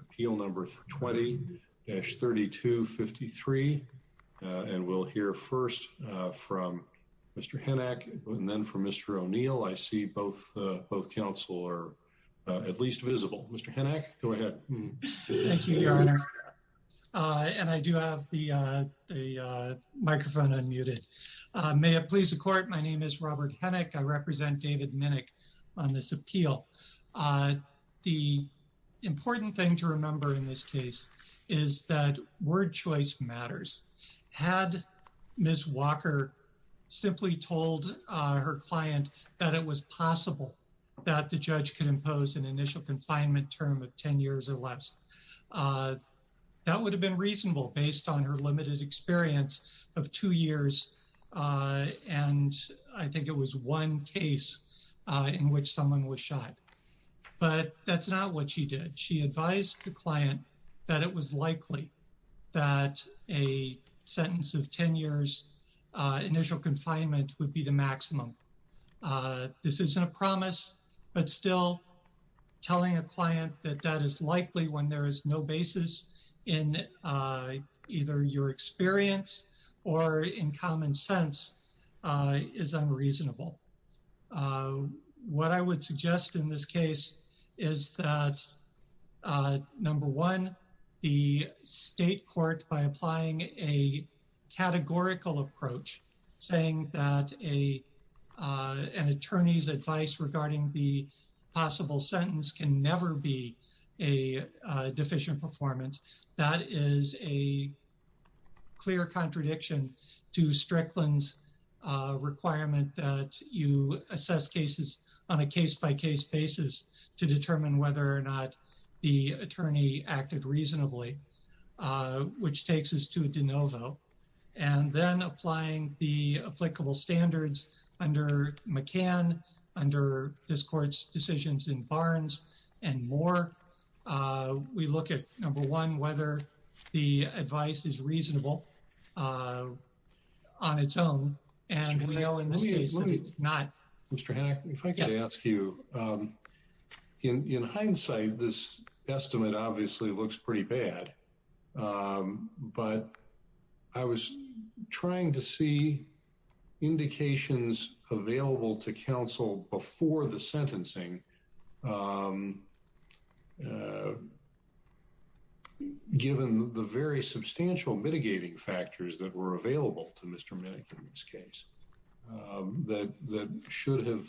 appeal number 20-3253 and we'll hear first from Mr. Hennack and then from Mr. O'Neill. I see both counsel are at least visible. Mr. Hennack, go ahead. Thank you, Your Honor. And I do have the microphone unmuted. May it please the court. My name is Robert Hennack. I represent David Minnick on this appeal. The important thing to remember in this case is that word choice matters. Had Ms. Walker simply told her client that it was possible that the judge could impose an initial confinement term of 10 years or less, that would have been reasonable based on her limited experience of two years and I think it was one case in which someone was shot. But that's not what she did. She advised the client that it was likely that a sentence of 10 years initial confinement would be the maximum. This isn't a promise, but still telling a client that that is likely when there is no basis in either your experience or in common sense is unreasonable. What I would suggest in this case is that number one, the state court by applying a categorical approach saying that an attorney's advice regarding the possible sentence can never be a deficient performance. That is a clear contradiction to Strickland's requirement that you assess cases on a case-by-case basis to determine whether or not the attorney acted reasonably, which takes us to de novo. And then applying the applicable standards under McCann, under this court's decisions in Barnes and Moore, we look at number one, whether the advice is reasonable on its own and we know in this case that it's not. Mr. Hanna, if I could ask you, in hindsight, this estimate obviously looks pretty bad, but I was trying to see indications available to counsel before the sentencing given the very substantial mitigating factors that were available to Mr. McCann in this case. That should have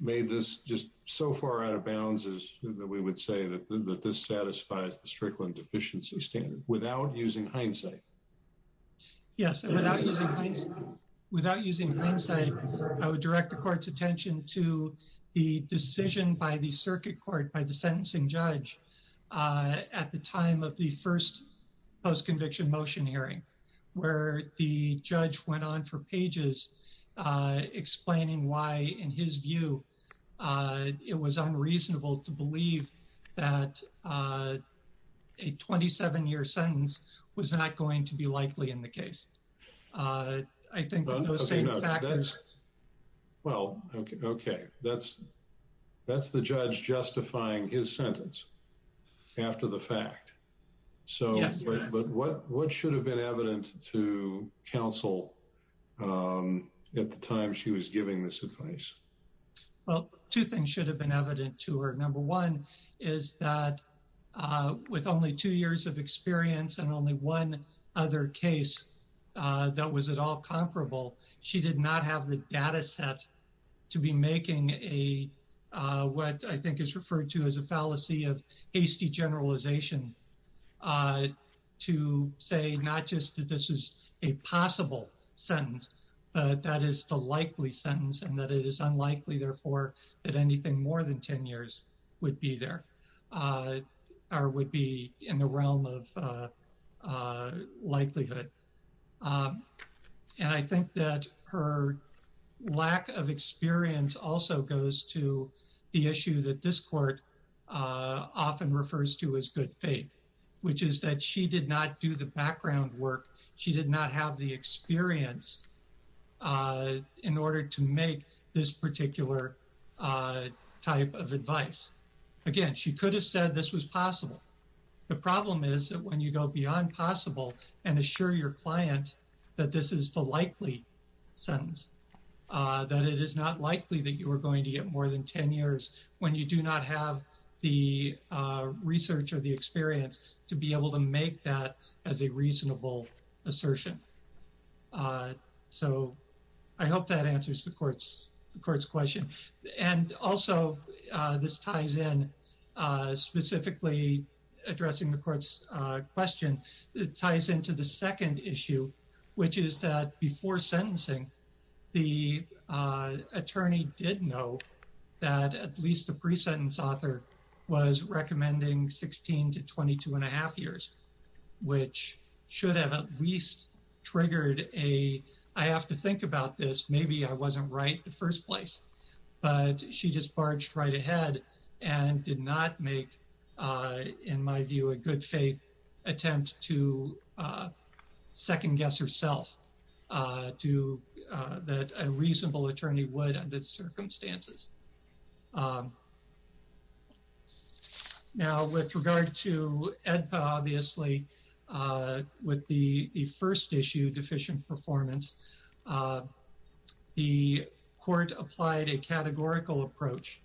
made this just so far out of bounds that we would say that this satisfies the Strickland deficiency standard without using hindsight. Yes, without using hindsight, I would direct the court's attention to the decision by the circuit court by the sentencing judge at the time of the first post-conviction motion hearing where the judge went on for pages explaining why, in his view, it was unreasonable to believe that a 27-year sentence was not going to be likely in the case. I think those same factors... Well, okay, that's the judge justifying his sentence after the fact, but what should have been evident to counsel at the time she was giving this advice? Well, two things should have been evident to her. Number one is that with only two years of experience and only one other case that was at all comparable, she did not have the data set to be making what I think is referred to as a fallacy of hasty generalization to say not just that this is a possible sentence, but that is the likely sentence and that it is unlikely, therefore, that anything more than 10 years would be there or would be in the realm of likelihood. And I think that her lack of experience also goes to the issue that this court often refers to as good faith, which is that she did not do the background work. She did not have the experience in order to make this particular type of advice. Again, she could have said this was possible. The problem is that when you go beyond possible and assure your client that this is the likely sentence, that it is not likely that you are going to get more than 10 years when you do not have the research or the experience to be able to make that as a reasonable assertion. So I hope that answers the court's question. And also, this ties in specifically addressing the court's question. It ties into the second issue, which is that before sentencing, the attorney did know that at least the pre-sentence author was recommending 16 to 22 and a half years, which should have at least triggered a, I have to think about this, maybe I was not right in the first place. But she just barged right ahead and did not make, in my view, a good faith attempt to second-guess herself that a reasonable attorney would under the circumstances. Now, with regard to EDPA, obviously, with the first issue, deficient performance, the court applied a categorical approach,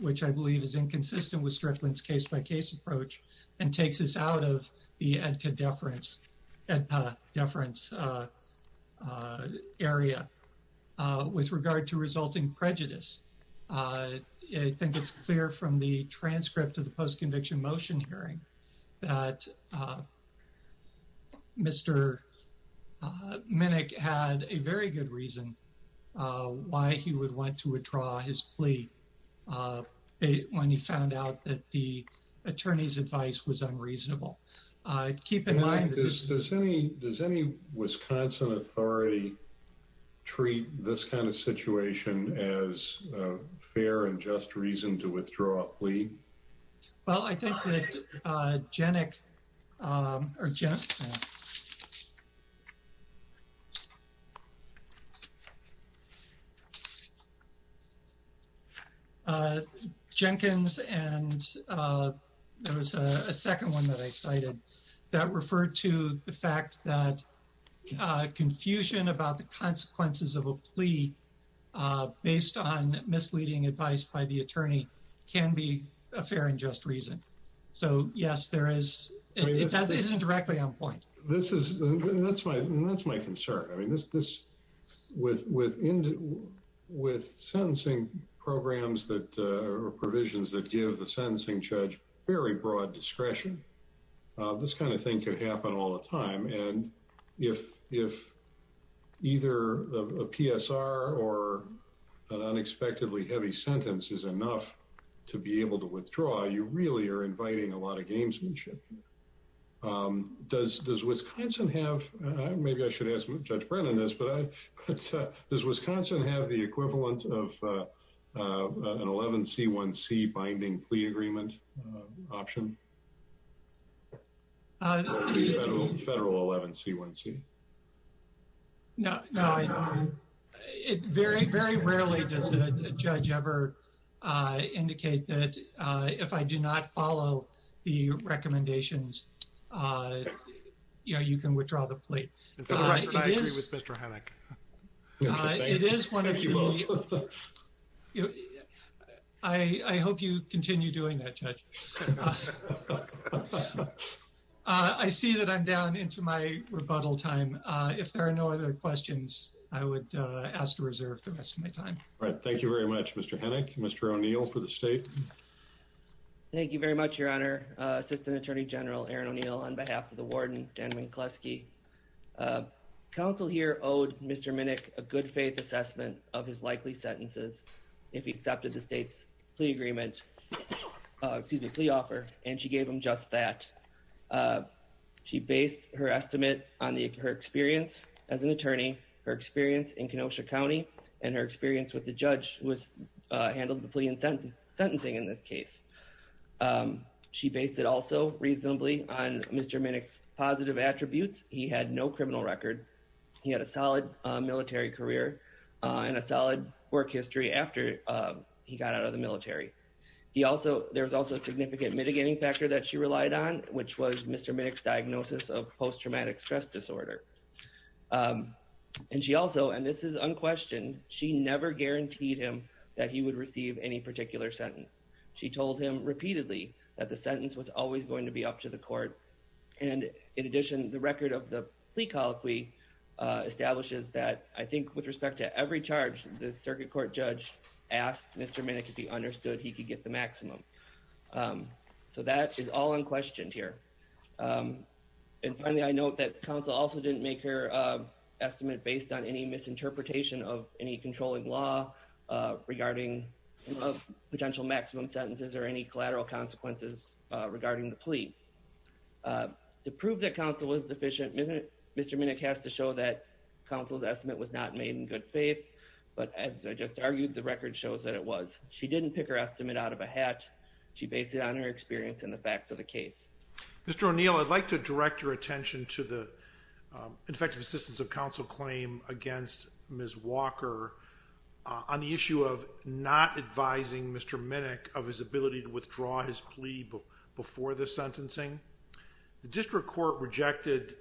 which I believe is inconsistent with Strickland's case-by-case approach, and takes us out of the EDPA deference area with regard to resulting prejudice. I think it's clear from the transcript of the post-conviction motion hearing that Mr. Minnick had a very good reason why he would want to withdraw his plea when he found out that the attorney's advice was unreasonable. Keep in mind— Does any Wisconsin authority treat this kind of situation as a fair and just reason to withdraw a plea? Well, I think that Jenkins and there was a second one that I cited that referred to the fact that confusion about the consequences of a plea based on misleading advice by the attorney can be a fair and just reason. So, yes, it is indirectly on point. That's my concern. With sentencing programs or provisions that give the sentencing judge very broad discretion, this kind of thing can happen all the time. And if either a PSR or an unexpectedly heavy sentence is enough to be able to withdraw, you really are inviting a lot of gamesmanship. Does Wisconsin have—maybe I should ask Judge Brennan this—but does Wisconsin have the equivalent of an 11C1C binding plea agreement option? Federal 11C1C? No. Very rarely does a judge ever indicate that if I do not follow the recommendations, you know, you can withdraw the plea. For the record, I agree with Mr. Hennick. It is one of the— Thank you both. I hope you continue doing that, Judge. I see that I'm down into my rebuttal time. If there are no other questions, I would ask to reserve the rest of my time. All right. Thank you very much, Mr. Hennick. Mr. O'Neill for the state. Thank you very much, Your Honor. Assistant Attorney General Aaron O'Neill on behalf of the warden, Dan Winkleski. Counsel here owed Mr. Minnick a good-faith assessment of his likely sentences if he accepted the state's plea agreement—excuse me, plea offer, and she gave him just that. She based her estimate on her experience as an attorney, her experience in Kenosha County, and her experience with the judge who handled the plea and sentencing in this case. She based it also reasonably on Mr. Minnick's positive attributes. He had no criminal record. He had a solid military career and a solid work history after he got out of the military. There was also a significant mitigating factor that she relied on, which was Mr. Minnick's diagnosis of post-traumatic stress disorder. And she also—and this is unquestioned—she never guaranteed him that he would receive any particular sentence. She told him repeatedly that the sentence was always going to be up to the court. And in addition, the record of the plea colloquy establishes that, I think, with respect to every charge, the circuit court judge asked Mr. Minnick if he understood he could get the maximum. So that is all unquestioned here. And finally, I note that counsel also didn't make her estimate based on any misinterpretation of any controlling law regarding potential maximum sentences or any collateral consequences regarding the plea. To prove that counsel was deficient, Mr. Minnick has to show that counsel's estimate was not made in good faith. But as I just argued, the record shows that it was. She didn't pick her estimate out of a hat. She based it on her experience and the facts of the case. Mr. O'Neill, I'd like to direct your attention to the effective assistance of counsel claim against Ms. Walker on the issue of not advising Mr. Minnick of his ability to withdraw his plea before the sentencing. The district court rejected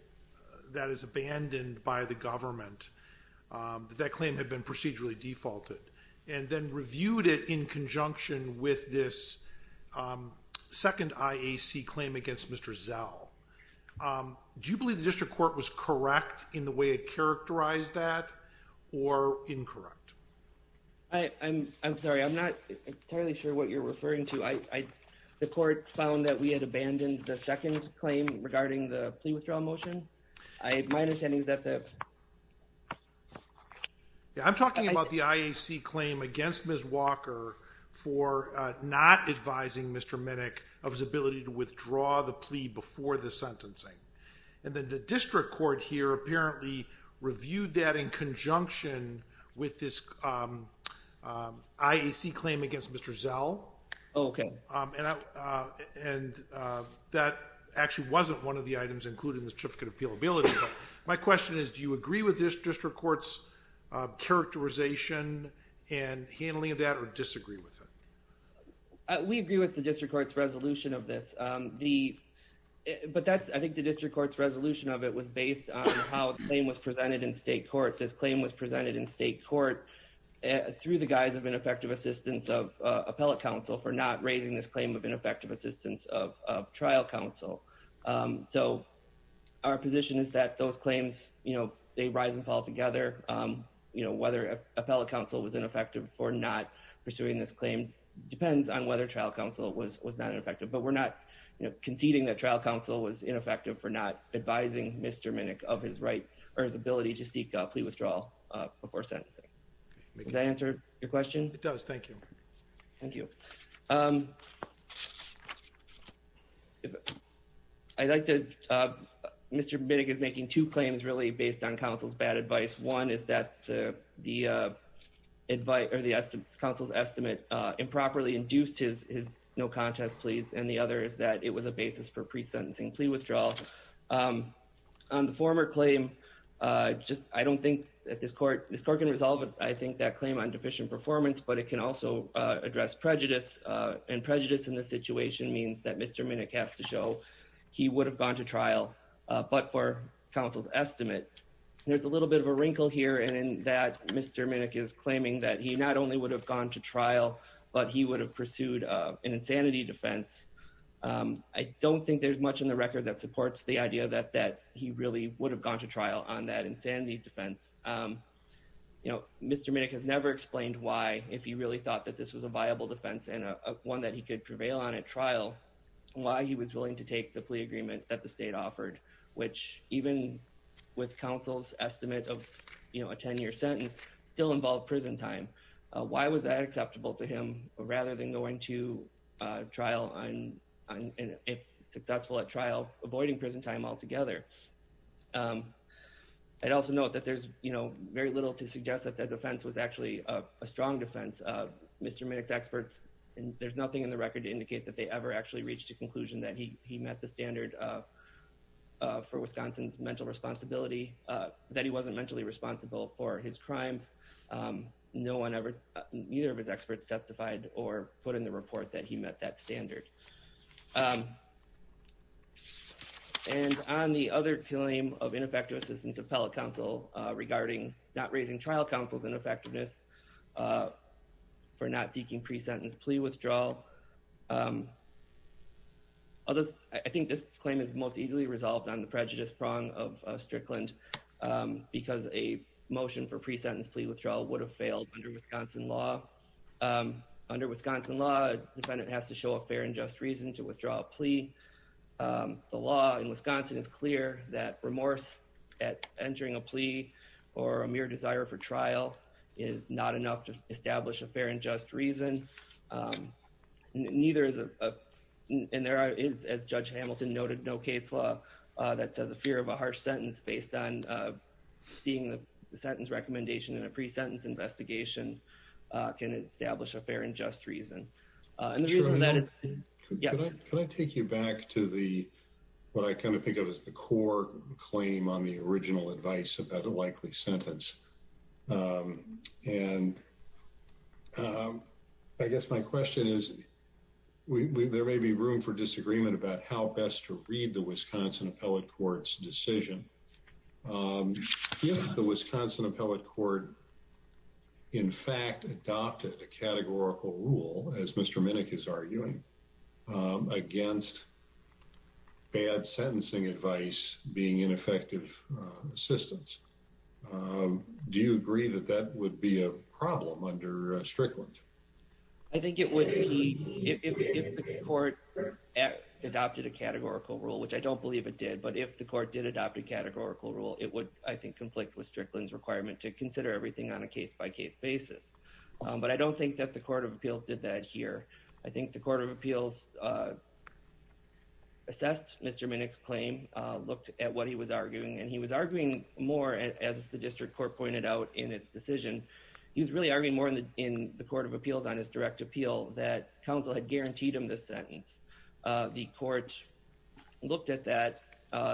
that as abandoned by the government, that that claim had been procedurally defaulted, and then reviewed it in conjunction with this second IAC claim against Mr. Zell. Do you believe the district court was correct in the way it characterized that or incorrect? I'm sorry, I'm not entirely sure what you're referring to. The court found that we had abandoned the second claim regarding the plea withdrawal motion. My understanding is that the... I'm talking about the IAC claim against Ms. Walker for not advising Mr. Minnick of his ability to withdraw his plea before the sentencing. And then the district court here apparently reviewed that in conjunction with this IAC claim against Mr. Zell. And that actually wasn't one of the items included in the certificate of appealability. My question is, do you agree with this district court's characterization and handling of that or disagree with it? We agree with the district court's resolution of this. But I think the district court's resolution of it was based on how the claim was presented in state court. This claim was presented in state court through the guise of ineffective assistance of appellate counsel for not raising this claim of ineffective assistance of trial counsel. So our position is that those claims, they rise and fall together. Whether appellate counsel was ineffective for not pursuing this claim depends on whether trial counsel was not effective. But we're not conceding that trial counsel was ineffective for not advising Mr. Minnick of his right or his ability to seek a plea withdrawal before sentencing. Does that answer your question? It does. Thank you. Thank you. I'd like to... Mr. Minnick is making two claims really based on counsel's bad advice. One is that the counsel's estimate improperly induced his no contest pleas. And the other is that it was a basis for pre-sentencing plea withdrawal. On the former claim, I don't think that this court can resolve it. I think that claim on deficient performance, but it can also address prejudice. And prejudice in this situation means that Mr. Minnick has to show he would have gone to trial, but for counsel's estimate. There's a little bit of a wrinkle here in that Mr. Minnick is claiming that he not only would have gone to trial, but he would have pursued an insanity defense. I don't think there's much in the record that supports the idea that he really would have gone to trial on that insanity defense. Mr. Minnick has never explained why, if he really thought that this was a viable defense and one that he could prevail on at trial, why he was willing to take the plea agreement that the state offered. Which even with counsel's estimate of a 10 year sentence, still involved prison time. Why was that acceptable to him rather than going to trial and if successful at trial, avoiding prison time altogether? I'd also note that there's very little to suggest that that defense was actually a strong defense Mr. Minnick's experts, and there's nothing in the record to indicate that they ever actually reached a conclusion that he met the standard for Wisconsin's mental responsibility, that he wasn't mentally responsible for his crimes. Neither of his experts testified or put in the report that he met that standard. And on the other claim of ineffective assistance of fellow counsel regarding not raising trial counsel's ineffectiveness for not seeking pre-sentence plea withdrawal. I think this claim is most easily resolved on the prejudice prong of Strickland because a motion for pre-sentence plea withdrawal would have failed under Wisconsin law. Under Wisconsin law, a defendant has to show a fair and just reason to withdraw a plea. The law in Wisconsin is clear that remorse at entering a plea or a mere desire for trial is not enough to establish a fair and just reason. And there is, as Judge Hamilton noted, no case law that says a fear of a harsh sentence based on seeing the sentence recommendation in a pre-sentence investigation can establish a fair and just reason. Sure. Can I take you back to what I kind of think of as the core claim on the original advice about a likely sentence? And I guess my question is, there may be room for disagreement about how best to read the Wisconsin Appellate Court's decision. If the Wisconsin Appellate Court in fact adopted a categorical rule, as Mr. Minnick is arguing, against bad sentencing advice being ineffective assistance, do you agree that that would be a problem under Strickland? I think it would be, if the court adopted a categorical rule, which I don't believe it did, but if the court did adopt a categorical rule, it would, I think, conflict with Strickland's everything on a case-by-case basis. But I don't think that the Court of Appeals did that here. I think the Court of Appeals assessed Mr. Minnick's claim, looked at what he was arguing, and he was arguing more, as the district court pointed out in its decision, he was really arguing more in the Court of Appeals on his direct appeal that counsel had guaranteed him the sentence. The court looked at that,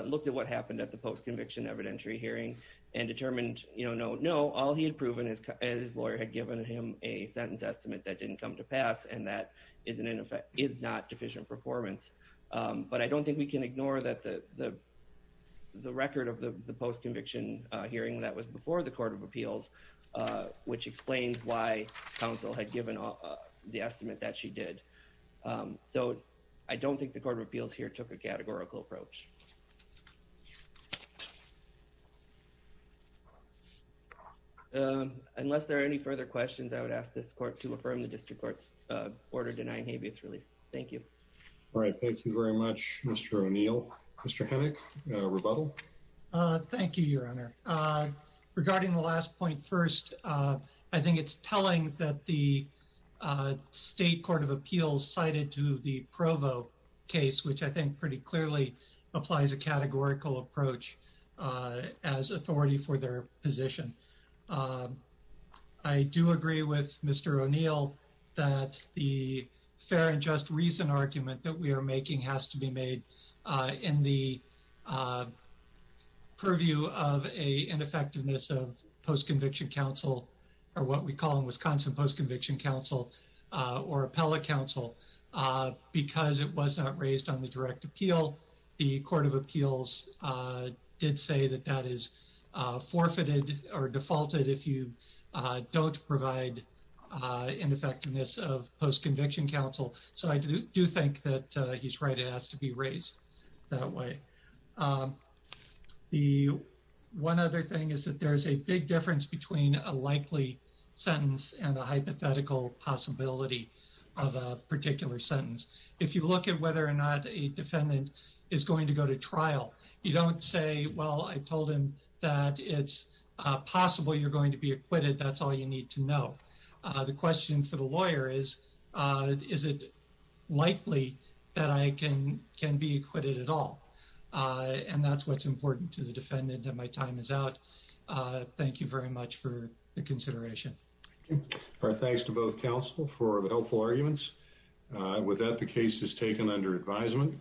looked at what happened at the post-conviction evidentiary hearing and determined, no, all he had proven is his lawyer had given him a sentence estimate that didn't come to pass, and that is not deficient performance. But I don't think we can ignore the record of the post-conviction hearing that was before the Court of Appeals, which explains why counsel had given the estimate that she did. So I don't think the Court of Appeals here took a categorical approach. Unless there are any further questions, I would ask this court to affirm the district court's order denying habeas relief. Thank you. All right. Thank you very much, Mr. O'Neill. Mr. Hennick, a rebuttal? Thank you, Your Honor. Regarding the last point first, I think it's telling that the state Court of Appeals cited to the Provo case, which I think pretty clearly applies a categorical approach as authority for their position. I do agree with Mr. O'Neill that the fair and just reason argument that we are making has to be made in the purview of a ineffectiveness of post-conviction counsel, or what we call in Wisconsin post-conviction counsel, or appellate counsel, because it was not raised on the direct appeal. The Court of Appeals did say that that is forfeited or defaulted if you don't provide ineffectiveness of post-conviction counsel. So I do think that he's right. It has to be raised that way. The one other thing is that there's a big difference between a likely sentence and a defendant is going to go to trial. You don't say, well, I told him that it's possible you're going to be acquitted. That's all you need to know. The question for the lawyer is, is it likely that I can be acquitted at all? And that's what's important to the defendant, and my time is out. Thank you very much for the consideration. Our thanks to both counsel for the helpful arguments. With that, the case is taken under advisement.